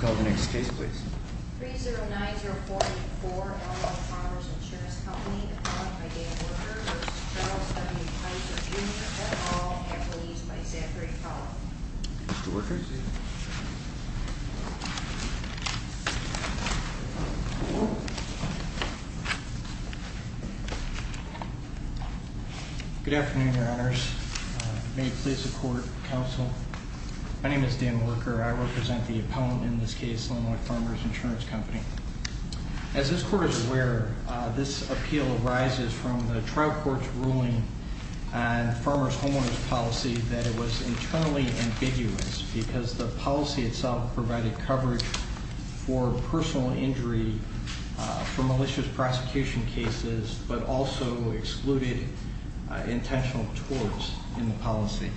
Call the next case please. 3090484 Elmwood Farmers Insurance Company Appointed by Dan Worker v. Charles W. Keyser Jr. All employees by Zachary Powell. Mr. Worker. Good afternoon, your honors. May it please the court, counsel. My name is Dan Worker. I represent the appellant in this case, Elmwood Farmers Insurance Company. As this court is aware, this appeal arises from the trial court's ruling on farmers' homeowners' policy that it was internally ambiguous because the policy itself provided coverage for personal injury for malicious prosecution cases but also excluded intentional torts in the policy.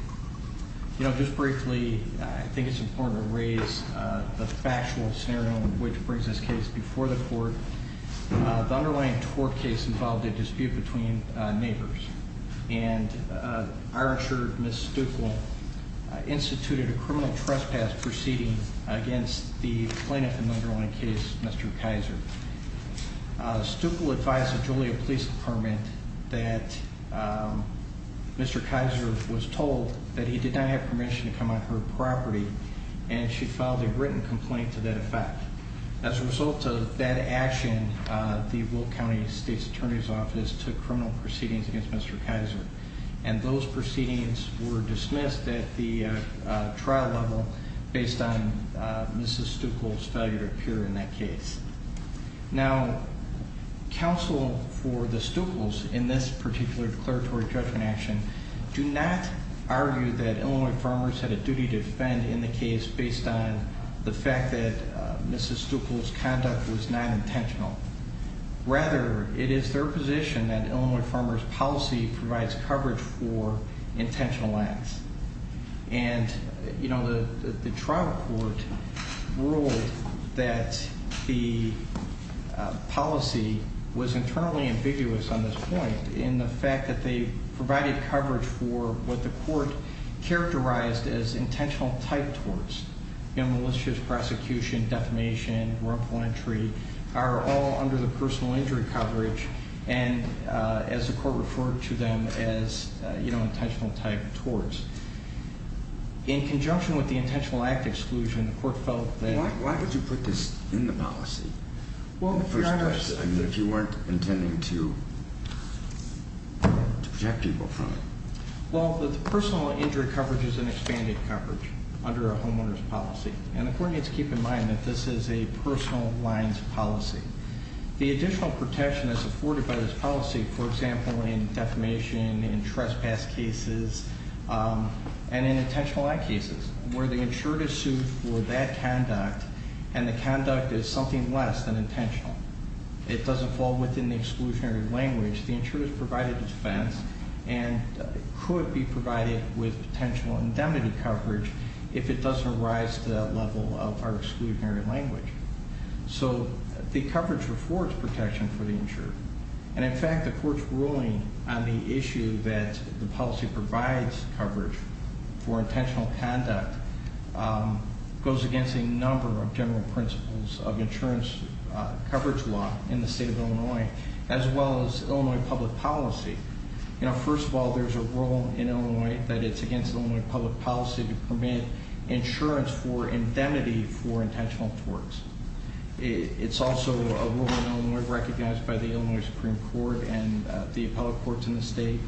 Just briefly, I think it's important to raise the factual scenario which brings this case before the court. The underlying tort case involved a dispute between neighbors, and our insurer, Ms. Stuckel, instituted a criminal trespass proceeding against the plaintiff in the underlying case, Mr. Keyser. Stuckel advised the Joliet Police Department that Mr. Keyser was told that he did not have permission to come on her property, and she filed a written complaint to that effect. As a result of that action, the Will County State's Attorney's Office took criminal proceedings against Mr. Keyser, and those proceedings were dismissed at the trial level based on Mrs. Stuckel's failure to appear in that case. Now, counsel for the Stuckels in this particular declaratory judgment action do not argue that Illinois farmers had a duty to defend in the case based on the fact that Mrs. Stuckel's conduct was not intentional. Rather, it is their position that Illinois farmers' policy provides coverage for intentional acts. And, you know, the trial court ruled that the policy was internally ambiguous on this point in the fact that they provided coverage for what the court characterized as intentional type torts. You know, malicious prosecution, defamation, wrongful entry are all under the personal injury coverage, and as the court referred to them as, you know, intentional type torts. In conjunction with the intentional act exclusion, the court felt that... Why did you put this in the policy? I mean, if you weren't intending to protect people from it. Well, the personal injury coverage is an expanded coverage under a homeowner's policy, and the court needs to keep in mind that this is a personal lines policy. The additional protection is afforded by this policy, for example, in defamation, in trespass cases, and in intentional act cases, where the insured is sued for that conduct and the conduct is something less than intentional. It doesn't fall within the exclusionary language. The insured is provided a defense and could be provided with potential indemnity coverage if it doesn't rise to that level of our exclusionary language. So the coverage affords protection for the insured, and in fact, the court's ruling on the issue that the policy provides coverage for intentional conduct goes against a number of general principles of insurance coverage law in the state of Illinois, as well as Illinois public policy. You know, first of all, there's a rule in Illinois that it's against Illinois public policy to permit insurance for indemnity for intentional torts. It's also a rule in Illinois recognized by the Illinois Supreme Court and the appellate courts in the state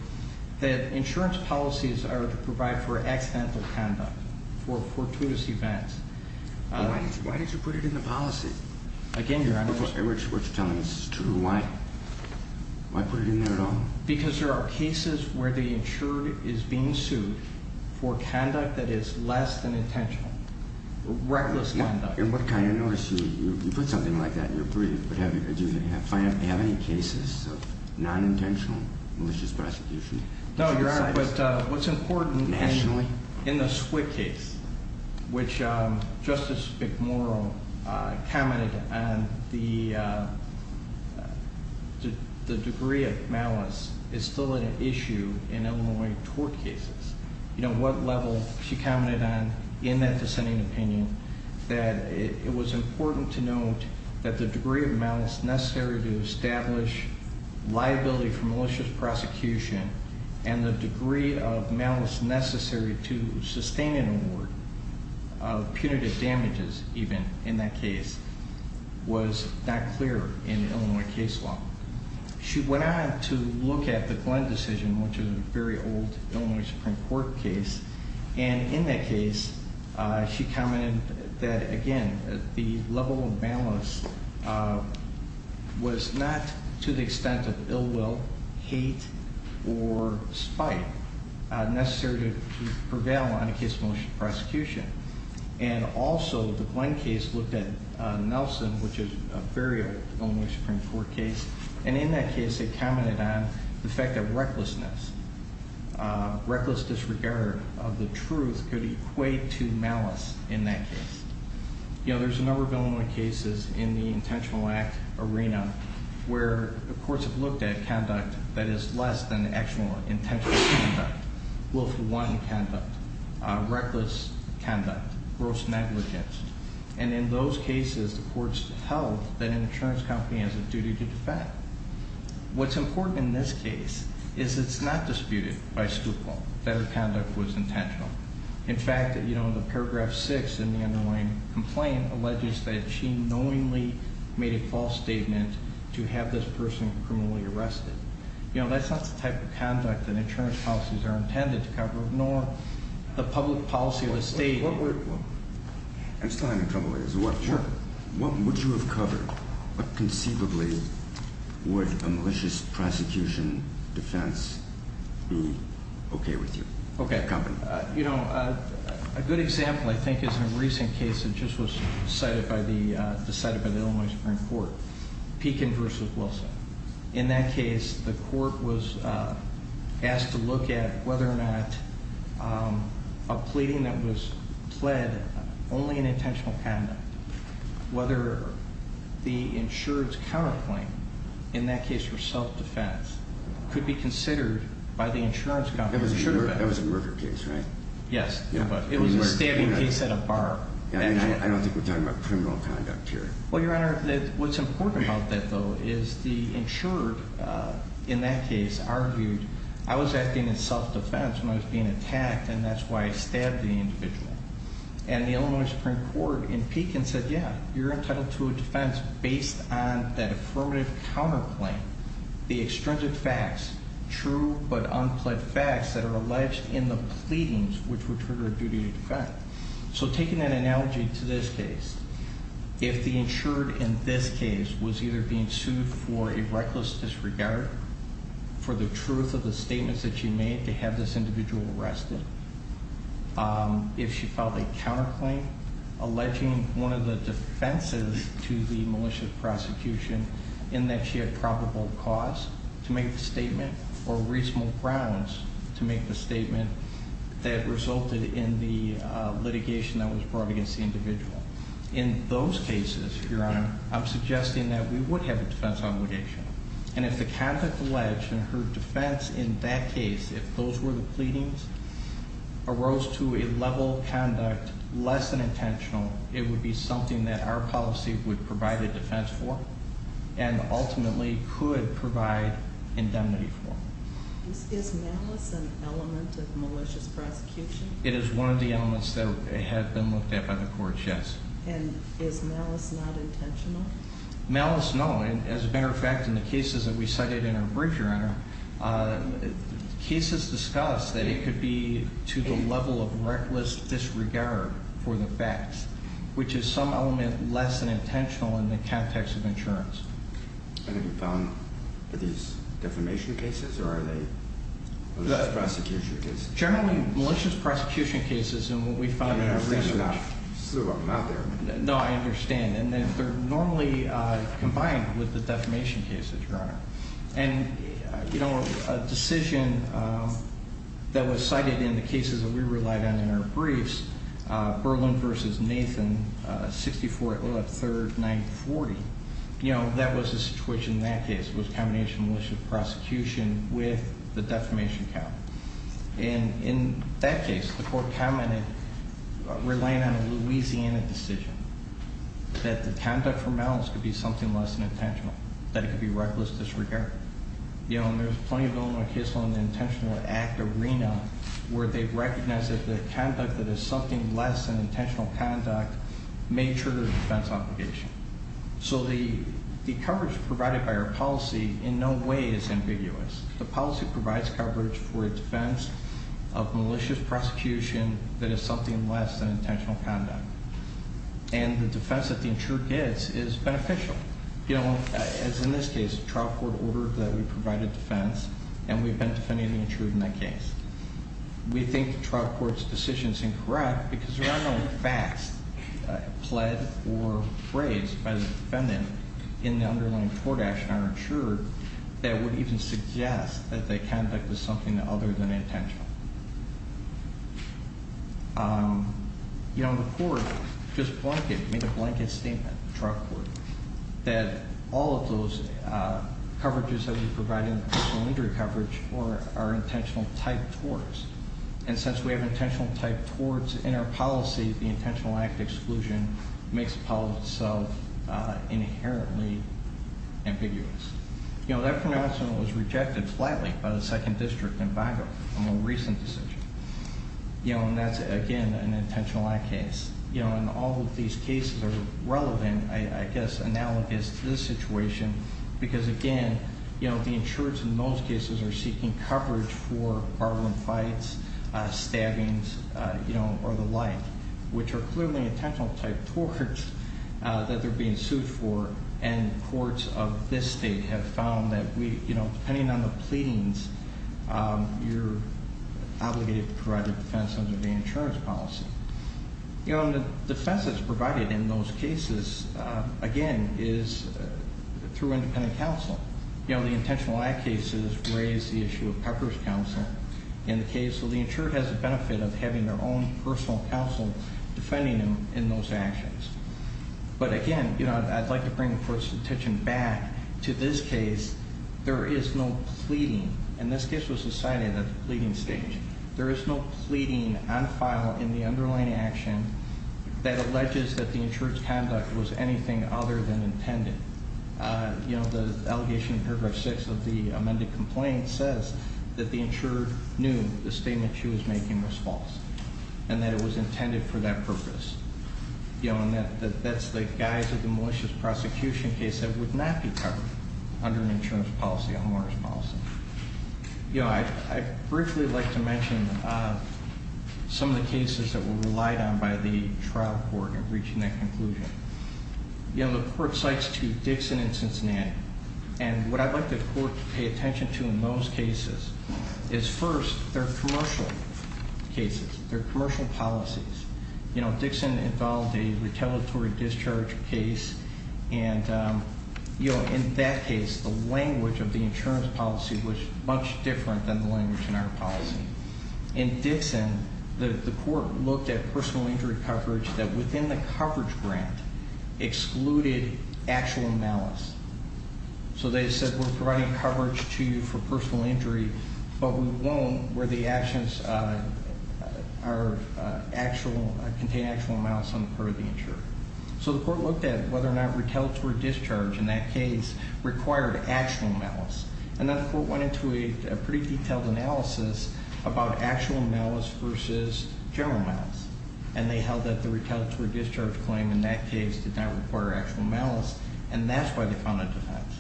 that insurance policies are to provide for accidental conduct, for fortuitous events. Why did you put it in the policy? Again, your Honor. What you're telling me is true. Why? Why put it in there at all? Because there are cases where the insured is being sued for conduct that is less than intentional. Reckless conduct. In what kind of notice do you put something like that in your brief? Do you have any cases of non-intentional malicious prosecution? No, your Honor, but what's important in the Swift case, which Justice McMorrow commented on the degree of malice is still an issue in Illinois tort cases. You know, what level she commented on in that dissenting opinion that it was important to note that the degree of malice necessary to establish liability for malicious prosecution and the degree of malice necessary to sustain an award of punitive damages even in that case was not clear in Illinois case law. She went on to look at the Glenn decision, which is a very old Illinois Supreme Court case, and in that case she commented that, again, the level of malice was not to the extent of ill will, hate, or spite necessary to prevail on a case of malicious prosecution. And also the Glenn case looked at Nelson, which is a very old Illinois Supreme Court case, and in that case they commented on the fact that recklessness, reckless disregard of the truth, could equate to malice in that case. You know, there's a number of Illinois cases in the intentional act arena where the courts have looked at conduct that is less than the actual intentional conduct, willful wanting conduct, reckless conduct, gross negligence, and in those cases the courts held that an insurance company has a duty to defend. What's important in this case is it's not disputed by Stupal that her conduct was intentional. In fact, the paragraph 6 in the underlying complaint alleges that she knowingly made a false statement to have this person criminally arrested. You know, that's not the type of conduct that insurance policies are intended to cover, nor the public policy of the state. I'm still having trouble with this. What would you have covered? What conceivably would a malicious prosecution defense be okay with you? Okay. You know, a good example I think is in a recent case that just was decided by the Illinois Supreme Court, Pekin v. Wilson. In that case, the court was asked to look at whether or not a pleading that was pled only in intentional conduct, whether the insurance counterclaim, in that case for self-defense, could be considered by the insurance company. That was a murder case, right? Yes. It was a stabbing case at a bar. I don't think we're talking about criminal conduct here. Well, Your Honor, what's important about that, though, is the insurer in that case argued, I was acting in self-defense when I was being attacked, and that's why I stabbed the individual. And the Illinois Supreme Court in Pekin said, yeah, you're entitled to a defense based on that affirmative counterclaim. The extrinsic facts, true but unpled facts that are alleged in the pleadings which would trigger a duty to defend. So taking that analogy to this case, if the insured in this case was either being sued for a reckless disregard, for the truth of the statements that she made to have this individual arrested, if she filed a counterclaim alleging one of the defenses to the malicious prosecution in that she had probable cause to make the statement or reasonable grounds to make the statement that resulted in the litigation that was brought against the individual. In those cases, Your Honor, I'm suggesting that we would have a defense obligation. And if the conduct alleged and her defense in that case, if those were the pleadings, arose to a level of conduct less than intentional, it would be something that our policy would provide a defense for and ultimately could provide indemnity for. Is malice an element of malicious prosecution? It is one of the elements that have been looked at by the courts, yes. And is malice not intentional? Malice, no. And as a matter of fact, in the cases that we cited in our brief, Your Honor, cases discussed that it could be to the level of reckless disregard for the facts, which is some element less than intentional in the context of insurance. And have you found that these defamation cases or are they malicious prosecution cases? Generally, malicious prosecution cases in what we found in our research. No, I understand. And they're normally combined with the defamation cases, Your Honor. And, you know, a decision that was cited in the cases that we relied on in our briefs, Berlin v. Nathan, 64-03-940, you know, that was the situation in that case. It was a combination of malicious prosecution with the defamation count. And in that case, the court commented, relying on a Louisiana decision, that the conduct for malice could be something less than intentional, that it could be reckless disregard. You know, and there's plenty of Illinois case law in the intentional act arena where they've recognized that the conduct that is something less than intentional conduct may trigger a defense obligation. So the coverage provided by our policy in no way is ambiguous. The policy provides coverage for a defense of malicious prosecution that is something less than intentional conduct. And the defense that the insurer gets is beneficial. You know, as in this case, the trial court ordered that we provide a defense, and we've been defending the insurer in that case. We think the trial court's decision is incorrect because there are no facts pled or raised by the defendant in the underlying court action on our insurer that would even suggest that the conduct was something other than intentional. You know, the court just made a blanket statement to the trial court that all of those coverages that we provide in the personal injury coverage are intentional type torts. And since we have intentional type torts in our policy, the intentional act exclusion makes the policy itself inherently ambiguous. You know, that pronouncement was rejected flatly by the second district in Vigo in a more recent decision. You know, and that's, again, an intentional act case. You know, and all of these cases are relevant, I guess, analogous to this situation because, again, you know, the insurers in those cases are seeking coverage for barbaran fights, stabbings, you know, or the like, which are clearly intentional type torts that they're being sued for. And courts of this state have found that, you know, depending on the pleadings, you're obligated to provide a defense under the insurance policy. You know, and the defense that's provided in those cases, again, is through independent counsel. You know, the intentional act cases raise the issue of coverage counsel. In the case of the insurer, it has the benefit of having their own personal counsel defending them in those actions. But, again, you know, I'd like to bring the court's attention back to this case. There is no pleading, and this case was decided at the pleading stage. There is no pleading on file in the underlying action that alleges that the insurer's conduct was anything other than intended. You know, the allegation in paragraph six of the amended complaint says that the insurer knew the statement she was making was false and that it was intended for that purpose. You know, and that's the guise of the malicious prosecution case that would not be covered under an insurance policy, a homeowner's policy. You know, I'd briefly like to mention some of the cases that were relied on by the trial court in reaching that conclusion. You know, the court cites two, Dixon and Cincinnati, and what I'd like the court to pay attention to in those cases is first their commercial cases, their commercial policies. You know, Dixon involved a retaliatory discharge case, and, you know, in that case, the language of the insurance policy was much different than the language in our policy. In Dixon, the court looked at personal injury coverage that within the coverage grant excluded actual malice. So they said we're providing coverage to you for personal injury, but we won't where the actions are actual, contain actual malice on the part of the insurer. So the court looked at whether or not retaliatory discharge in that case required actual malice. And then the court went into a pretty detailed analysis about actual malice versus general malice, and they held that the retaliatory discharge claim in that case did not require actual malice, and that's why they found it defense.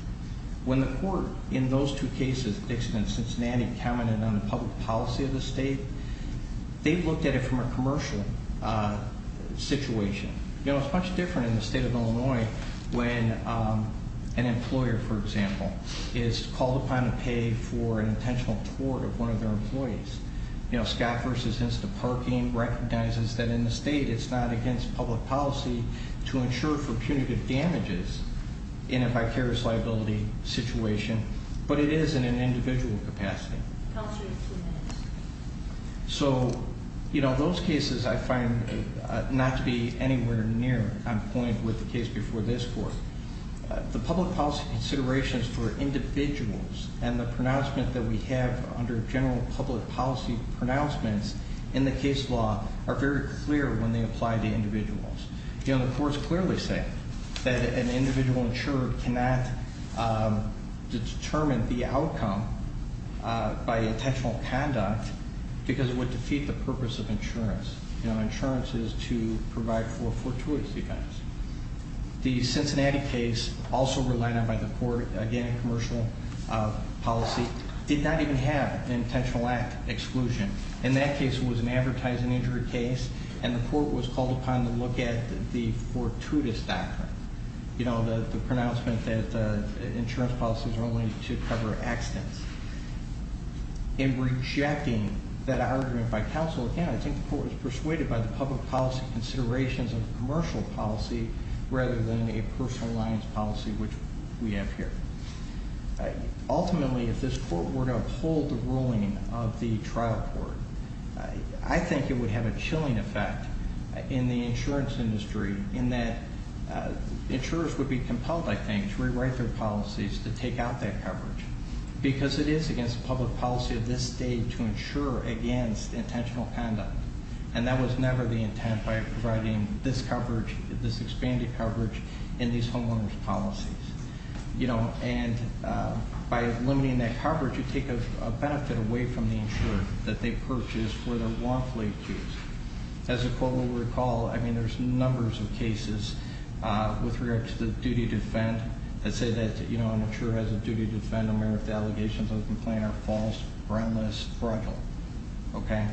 When the court in those two cases, Dixon and Cincinnati, commented on the public policy of the state, they looked at it from a commercial situation. You know, it's much different in the state of Illinois when an employer, for example, is called upon to pay for an intentional tort of one of their employees. You know, Scott versus Instaparking recognizes that in the state it's not against public policy to insure for punitive damages in a vicarious liability situation, but it is in an individual capacity. So, you know, those cases I find not to be anywhere near on point with the case before this court. The public policy considerations for individuals and the pronouncement that we have under general public policy pronouncements in the case law are very clear when they apply to individuals. You know, the courts clearly say that an individual insured cannot determine the outcome by intentional conduct because it would defeat the purpose of insurance. You know, insurance is to provide for fortuitous defense. The Cincinnati case, also relied on by the court, again, a commercial policy, did not even have an intentional act exclusion. In that case, it was an advertising injury case, and the court was called upon to look at the fortuitous doctrine. You know, the pronouncement that insurance policies are only to cover accidents. In rejecting that argument by counsel, again, I think the court was persuaded by the public policy considerations of commercial policy rather than a personal alliance policy, which we have here. Ultimately, if this court were to uphold the ruling of the trial court, I think it would have a chilling effect in the insurance industry in that insurers would be compelled, I think, to rewrite their policies to take out that coverage because it is against public policy of this state to insure against intentional conduct, and that was never the intent by providing this coverage, this expanded coverage in these homeowner's policies. You know, and by limiting that coverage, you take a benefit away from the insurer that they purchased for their lawfully accused. As the court will recall, I mean, there's numbers of cases with regard to the duty to defend that say that, you know, an insurer has a duty to defend them if the allegations of the complaint are false, friendless, fragile. Okay?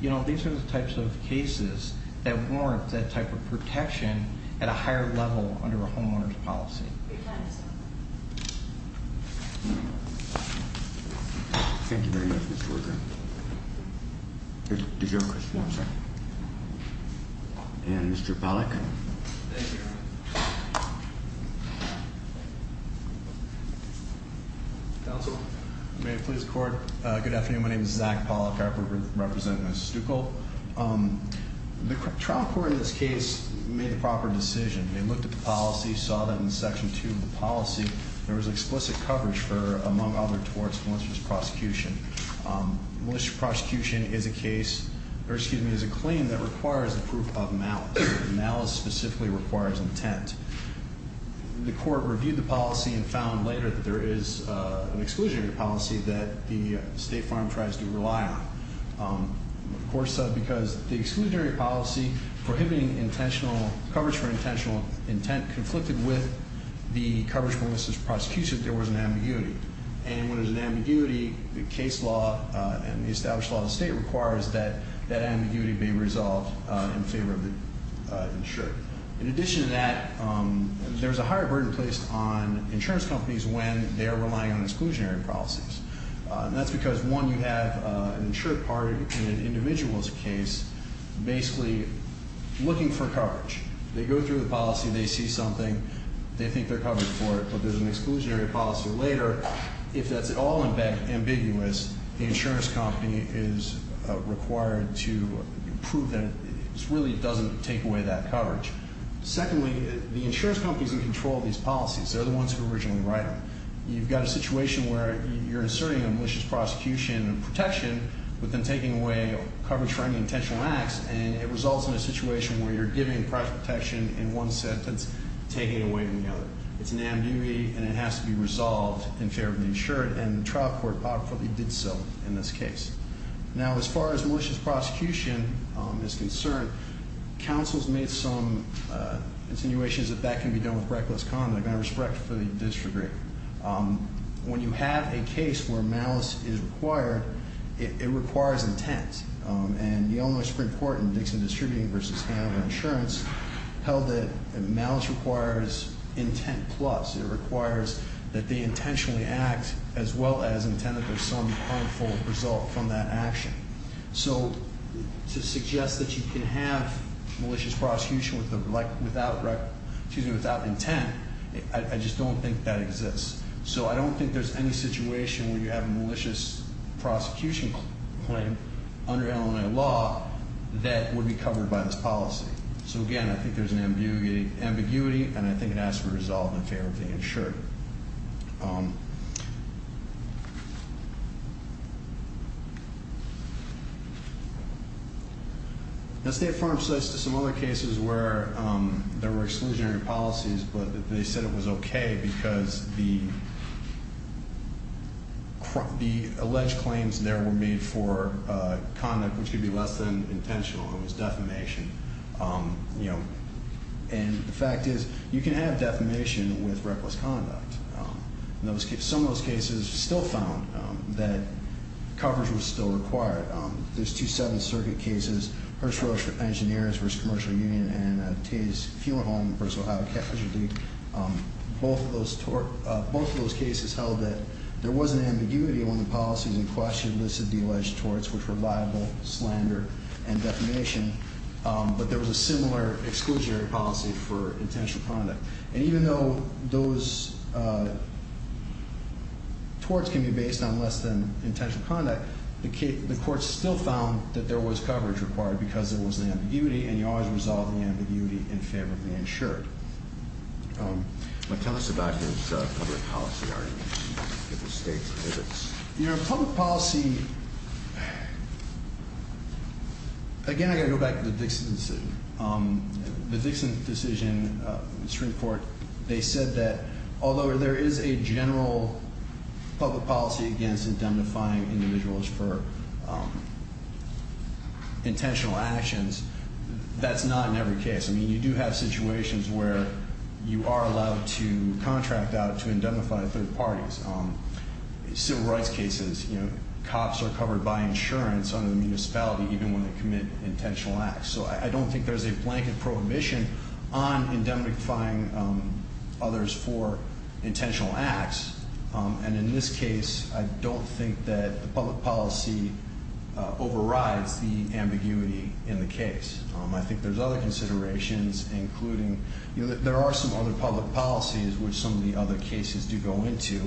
You know, these are the types of cases that warrant that type of protection at a higher level under a homeowner's policy. Thank you very much, Mr. Worker. Did you have a question? No, I'm sorry. And Mr. Pollack? Thank you. Counsel? May it please the Court? Good afternoon. My name is Zach Pollack. I represent Ms. Stucco. The trial court in this case made the proper decision. They looked at the policy, saw that in Section 2 of the policy, there was explicit coverage for, among other torts, malicious prosecution. Malicious prosecution is a case, or excuse me, is a claim that requires the proof of malice. Malice specifically requires intent. The Court reviewed the policy and found later that there is an exclusionary policy that the State Farm tries to rely on. The Court said because the exclusionary policy prohibiting intentional coverage for intentional intent conflicted with the coverage for malicious prosecution, there was an ambiguity. And when there's an ambiguity, the case law and the established law of the State requires that that ambiguity be resolved in favor of the insurer. In addition to that, there's a higher burden placed on insurance companies when they're relying on exclusionary policies. And that's because, one, you have an insured party in an individual's case basically looking for coverage. They go through the policy, they see something, they think they're covered for it, but there's an exclusionary policy later. If that's at all ambiguous, the insurance company is required to prove that it really doesn't take away that coverage. Secondly, the insurance company is in control of these policies. They're the ones who originally write them. You've got a situation where you're asserting a malicious prosecution protection but then taking away coverage for any intentional acts, and it results in a situation where you're giving protection in one sentence, taking it away in the other. It's an ambiguity, and it has to be resolved in favor of the insured, and the trial court powerfully did so in this case. Now, as far as malicious prosecution is concerned, counsel has made some insinuations that that can be done with reckless conduct and I respectfully disagree. When you have a case where malice is required, it requires intent. And the Illinois Supreme Court in Dixon Distributing v. Hanover Insurance held that malice requires intent plus. It requires that they intentionally act as well as intend that there's some harmful result from that action. So to suggest that you can have malicious prosecution without intent, I just don't think that exists. So I don't think there's any situation where you have a malicious prosecution claim under Illinois law that would be covered by this policy. So, again, I think there's an ambiguity, and I think it has to be resolved in favor of the insured. Now, State Farm says some other cases where there were exclusionary policies, but they said it was okay because the alleged claims there were made for conduct which could be less than intentional. It was defamation. And the fact is you can have defamation with reckless conduct. Some of those cases still found that coverage was still required. There's two Seventh Circuit cases, Hirschfeld Engineers v. Commercial Union and Tay's Fuel Home v. Ohio Casualty. Both of those cases held that there was an ambiguity when the policies in question listed the alleged torts which were liable, slander, and defamation, but there was a similar exclusionary policy for intentional conduct. And even though those torts can be based on less than intentional conduct, the courts still found that there was coverage required because there was an ambiguity, and you always resolve the ambiguity in favor of the insured. Tell us about these public policy arguments that the State submits. Public policy, again, I've got to go back to the Dixon decision. The Dixon decision, this report, they said that although there is a general public policy against indemnifying individuals for intentional actions, that's not in every case. I mean, you do have situations where you are allowed to contract out to indemnify third parties. Civil rights cases, you know, cops are covered by insurance under the municipality even when they commit intentional acts. So I don't think there's a blanket prohibition on indemnifying others for intentional acts. And in this case, I don't think that the public policy overrides the ambiguity in the case. I think there's other considerations, including there are some other public policies which some of the other cases do go into.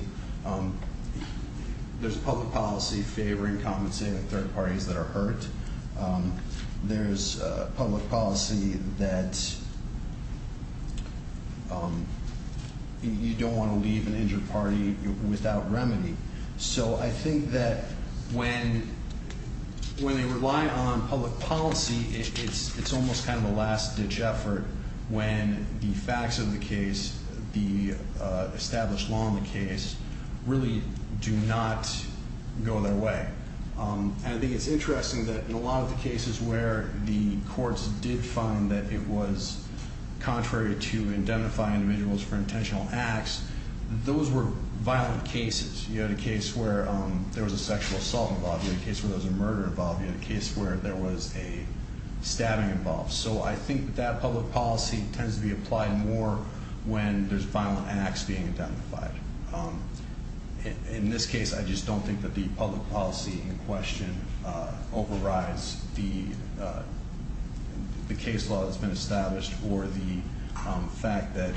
There's public policy favoring compensating third parties that are hurt. There's public policy that you don't want to leave an injured party without remedy. So I think that when they rely on public policy, it's almost kind of a last-ditch effort when the facts of the case, the established law in the case, really do not go their way. And I think it's interesting that in a lot of the cases where the courts did find that it was contrary to indemnifying individuals for intentional acts, those were violent cases. You had a case where there was a sexual assault involved. You had a case where there was a murder involved. You had a case where there was a stabbing involved. So I think that public policy tends to be applied more when there's violent acts being identified. In this case, I just don't think that the public policy in question overrides the case law that's been established or the fact that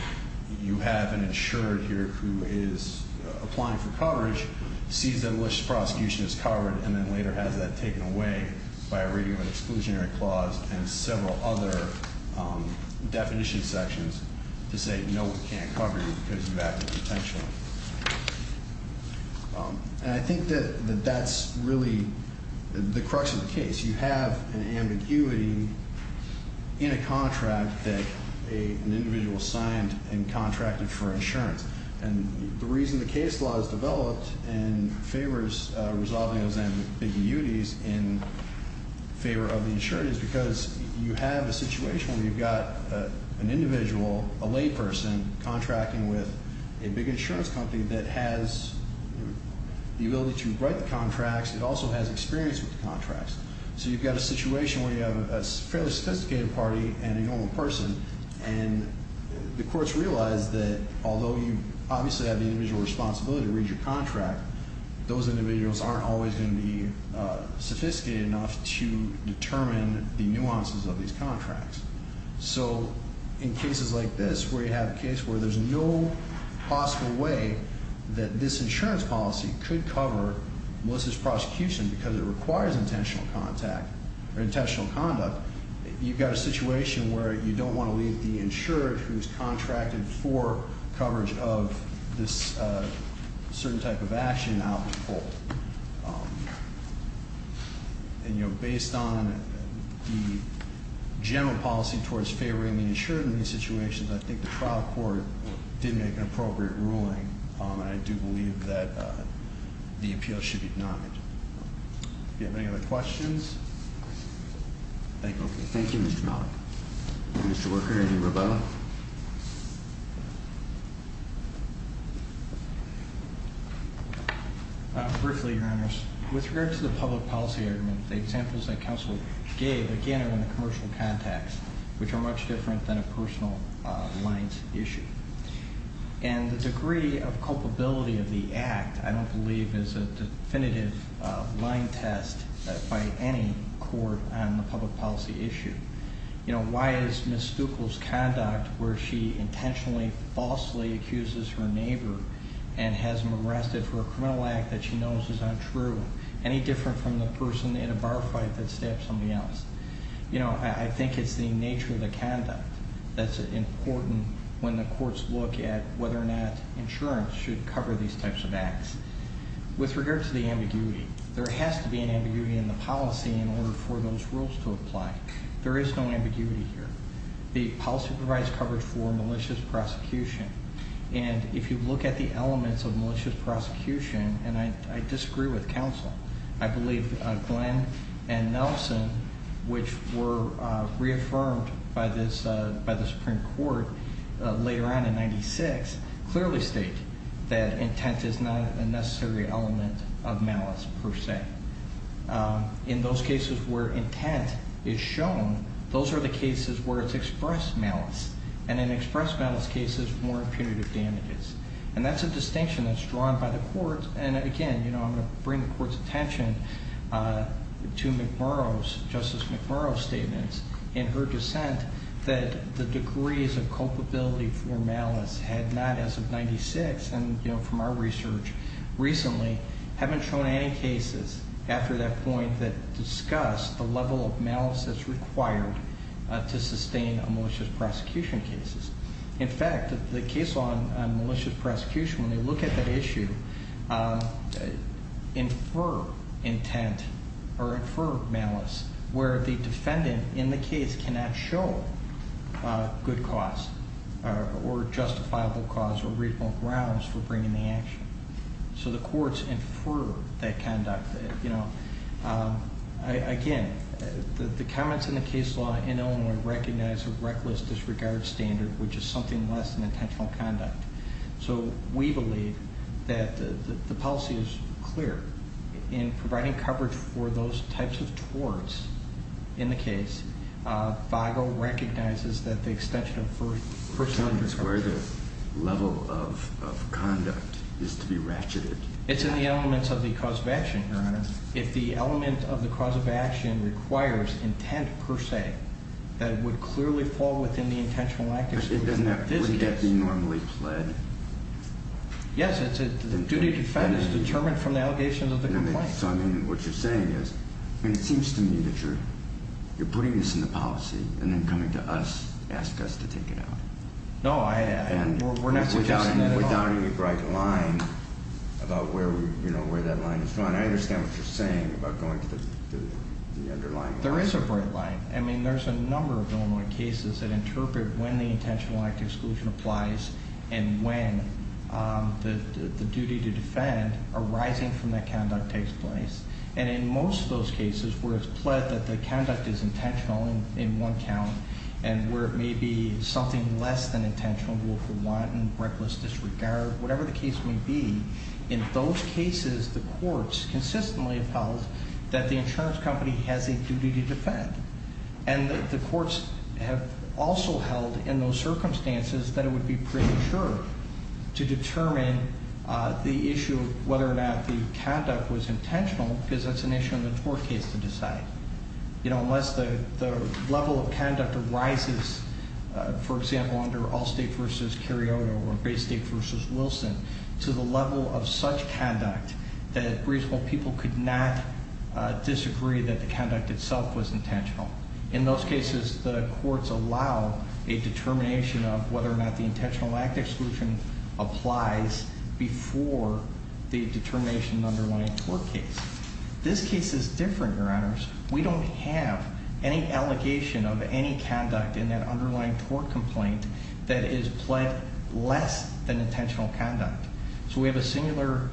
you have an insured here who is applying for coverage, sees that a malicious prosecution is covered, and then later has that taken away by a reading of an exclusionary clause and several other definition sections to say, no, we can't cover you because you have the potential. And I think that that's really the crux of the case. You have an ambiguity in a contract that an individual signed and contracted for insurance. And the reason the case law is developed and favors resolving those ambiguities in favor of the insurance is because you have a situation where you've got an individual, a layperson, contracting with a big insurance company that has the ability to write the contracts. It also has experience with the contracts. So you've got a situation where you have a fairly sophisticated party and a normal person, and the courts realize that, although you obviously have the individual responsibility to read your contract, those individuals aren't always going to be sophisticated enough to determine the nuances of these contracts. So in cases like this where you have a case where there's no possible way that this insurance policy could cover malicious prosecution because it requires intentional contact or intentional conduct, you've got a situation where you don't want to leave the insured who's contracted for coverage of this certain type of action out in full. And based on the general policy towards favoring the insured in these situations, I think the trial court did make an appropriate ruling, and I do believe that the appeal should be denied. Do you have any other questions? Thank you. Thank you, Mr. Malik. Mr. Worker, any rebuttal? Briefly, Your Honors, with regard to the public policy argument, the examples that counsel gave, again, are in the commercial context, which are much different than a personal lines issue. And the degree of culpability of the act, I don't believe, is a definitive line test by any court on the public policy issue. You know, why is Ms. Stuckel's conduct where she intentionally, falsely accuses her neighbor and has them arrested for a criminal act that she knows is untrue any different from the person in a bar fight that stabbed somebody else? You know, I think it's the nature of the conduct that's important when the courts look at whether or not insurance should cover these types of acts. With regard to the ambiguity, there has to be an ambiguity in the policy in order for those rules to apply. There is no ambiguity here. The policy provides coverage for malicious prosecution. And if you look at the elements of malicious prosecution, and I disagree with counsel, I believe Glenn and Nelson, which were reaffirmed by the Supreme Court later on in 1996, clearly state that intent is not a necessary element of malice per se. In those cases where intent is shown, those are the cases where it's expressed malice. And in expressed malice cases, more punitive damages. And that's a distinction that's drawn by the courts. And again, I'm going to bring the court's attention to Justice McMurrow's statements in her dissent that the degrees of culpability for malice had not, as of 1996, and from our research recently, haven't shown any cases after that point that discuss the level of malice that's required to sustain a malicious prosecution case. In fact, the case law on malicious prosecution, when they look at that issue, infer intent or infer malice where the defendant in the case cannot show good cause or justifiable cause or reasonable grounds for bringing the action. So the courts infer that conduct. Again, the comments in the case law in Illinois recognize a reckless disregard standard, which is something less than intentional conduct. So we believe that the policy is clear. In providing coverage for those types of torts in the case, VAGO recognizes that the extension of first sentence coverage. So that's where the level of conduct is to be ratcheted. It's in the elements of the cause of action, Your Honor. If the element of the cause of action requires intent, per se, that would clearly fall within the intentional lack of intent. But wouldn't that be normally pled? Yes. The duty to defend is determined from the allegations of the complaint. So, I mean, what you're saying is, I mean, it seems to me that you're putting this in the policy and then coming to us, ask us to take it out. No, we're not suggesting that at all. We're downing a bright line about where that line is drawn. I understand what you're saying about going to the underlying line. There is a bright line. I mean, there's a number of Illinois cases that interpret when the intentional lack of exclusion applies and when the duty to defend arising from that conduct takes place. And in most of those cases where it's pled that the conduct is intentional in one count and where it may be something less than intentional, willful wanton, reckless disregard, whatever the case may be, in those cases the courts consistently have held that the insurance company has a duty to defend. And the courts have also held in those circumstances that it would be pretty sure to determine the issue of whether or not the conduct was intentional because that's an issue in the tort case to decide. You know, unless the level of conduct arises, for example, under Allstate v. Carioto or Baystate v. Wilson, to the level of such conduct that reasonable people could not disagree that the conduct itself was intentional, in those cases the courts allow a determination of whether or not the intentional lack of exclusion applies before the determination of the underlying tort case. We don't have any allegation of any conduct in that underlying tort complaint that is pled less than intentional conduct. So we have a singular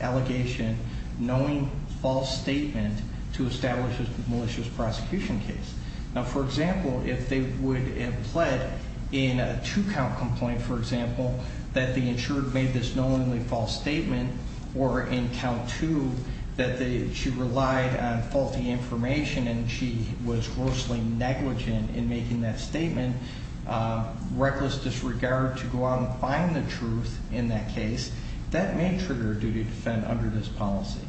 allegation knowing false statement to establish a malicious prosecution case. Now, for example, if they would have pled in a two-count complaint, for example, that the insured made this knowingly false statement, or in count two that she relied on faulty information and she was grossly negligent in making that statement, reckless disregard to go out and find the truth in that case, that may trigger a duty to defend under this policy.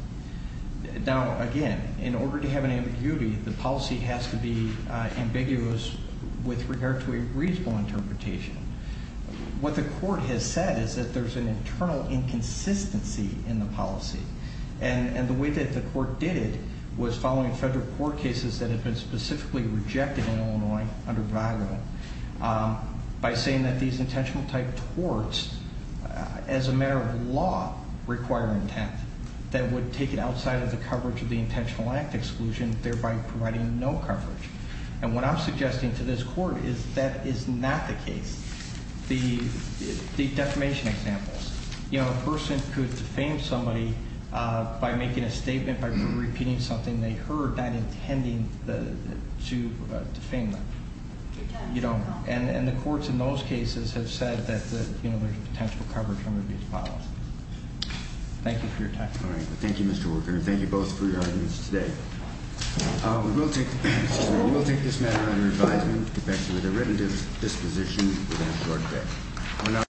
Now, again, in order to have an ambiguity, the policy has to be ambiguous with regard to a reasonable interpretation. What the court has said is that there's an internal inconsistency in the policy. And the way that the court did it was following federal court cases that had been specifically rejected in Illinois under VAGRA by saying that these intentional type torts, as a matter of law, require intent that would take it outside of the coverage of the intentional act exclusion, thereby providing no coverage. And what I'm suggesting to this court is that is not the case. The defamation examples, you know, a person could defame somebody by making a statement, by repeating something they heard, not intending to defame them. And the courts in those cases have said that there's a potential coverage under VAGRA. Thank you for your time. Thank you, Mr. Worker, and thank you both for your arguments today. We will take this matter under advisement. We'll get back to you with a written disposition within a short bit.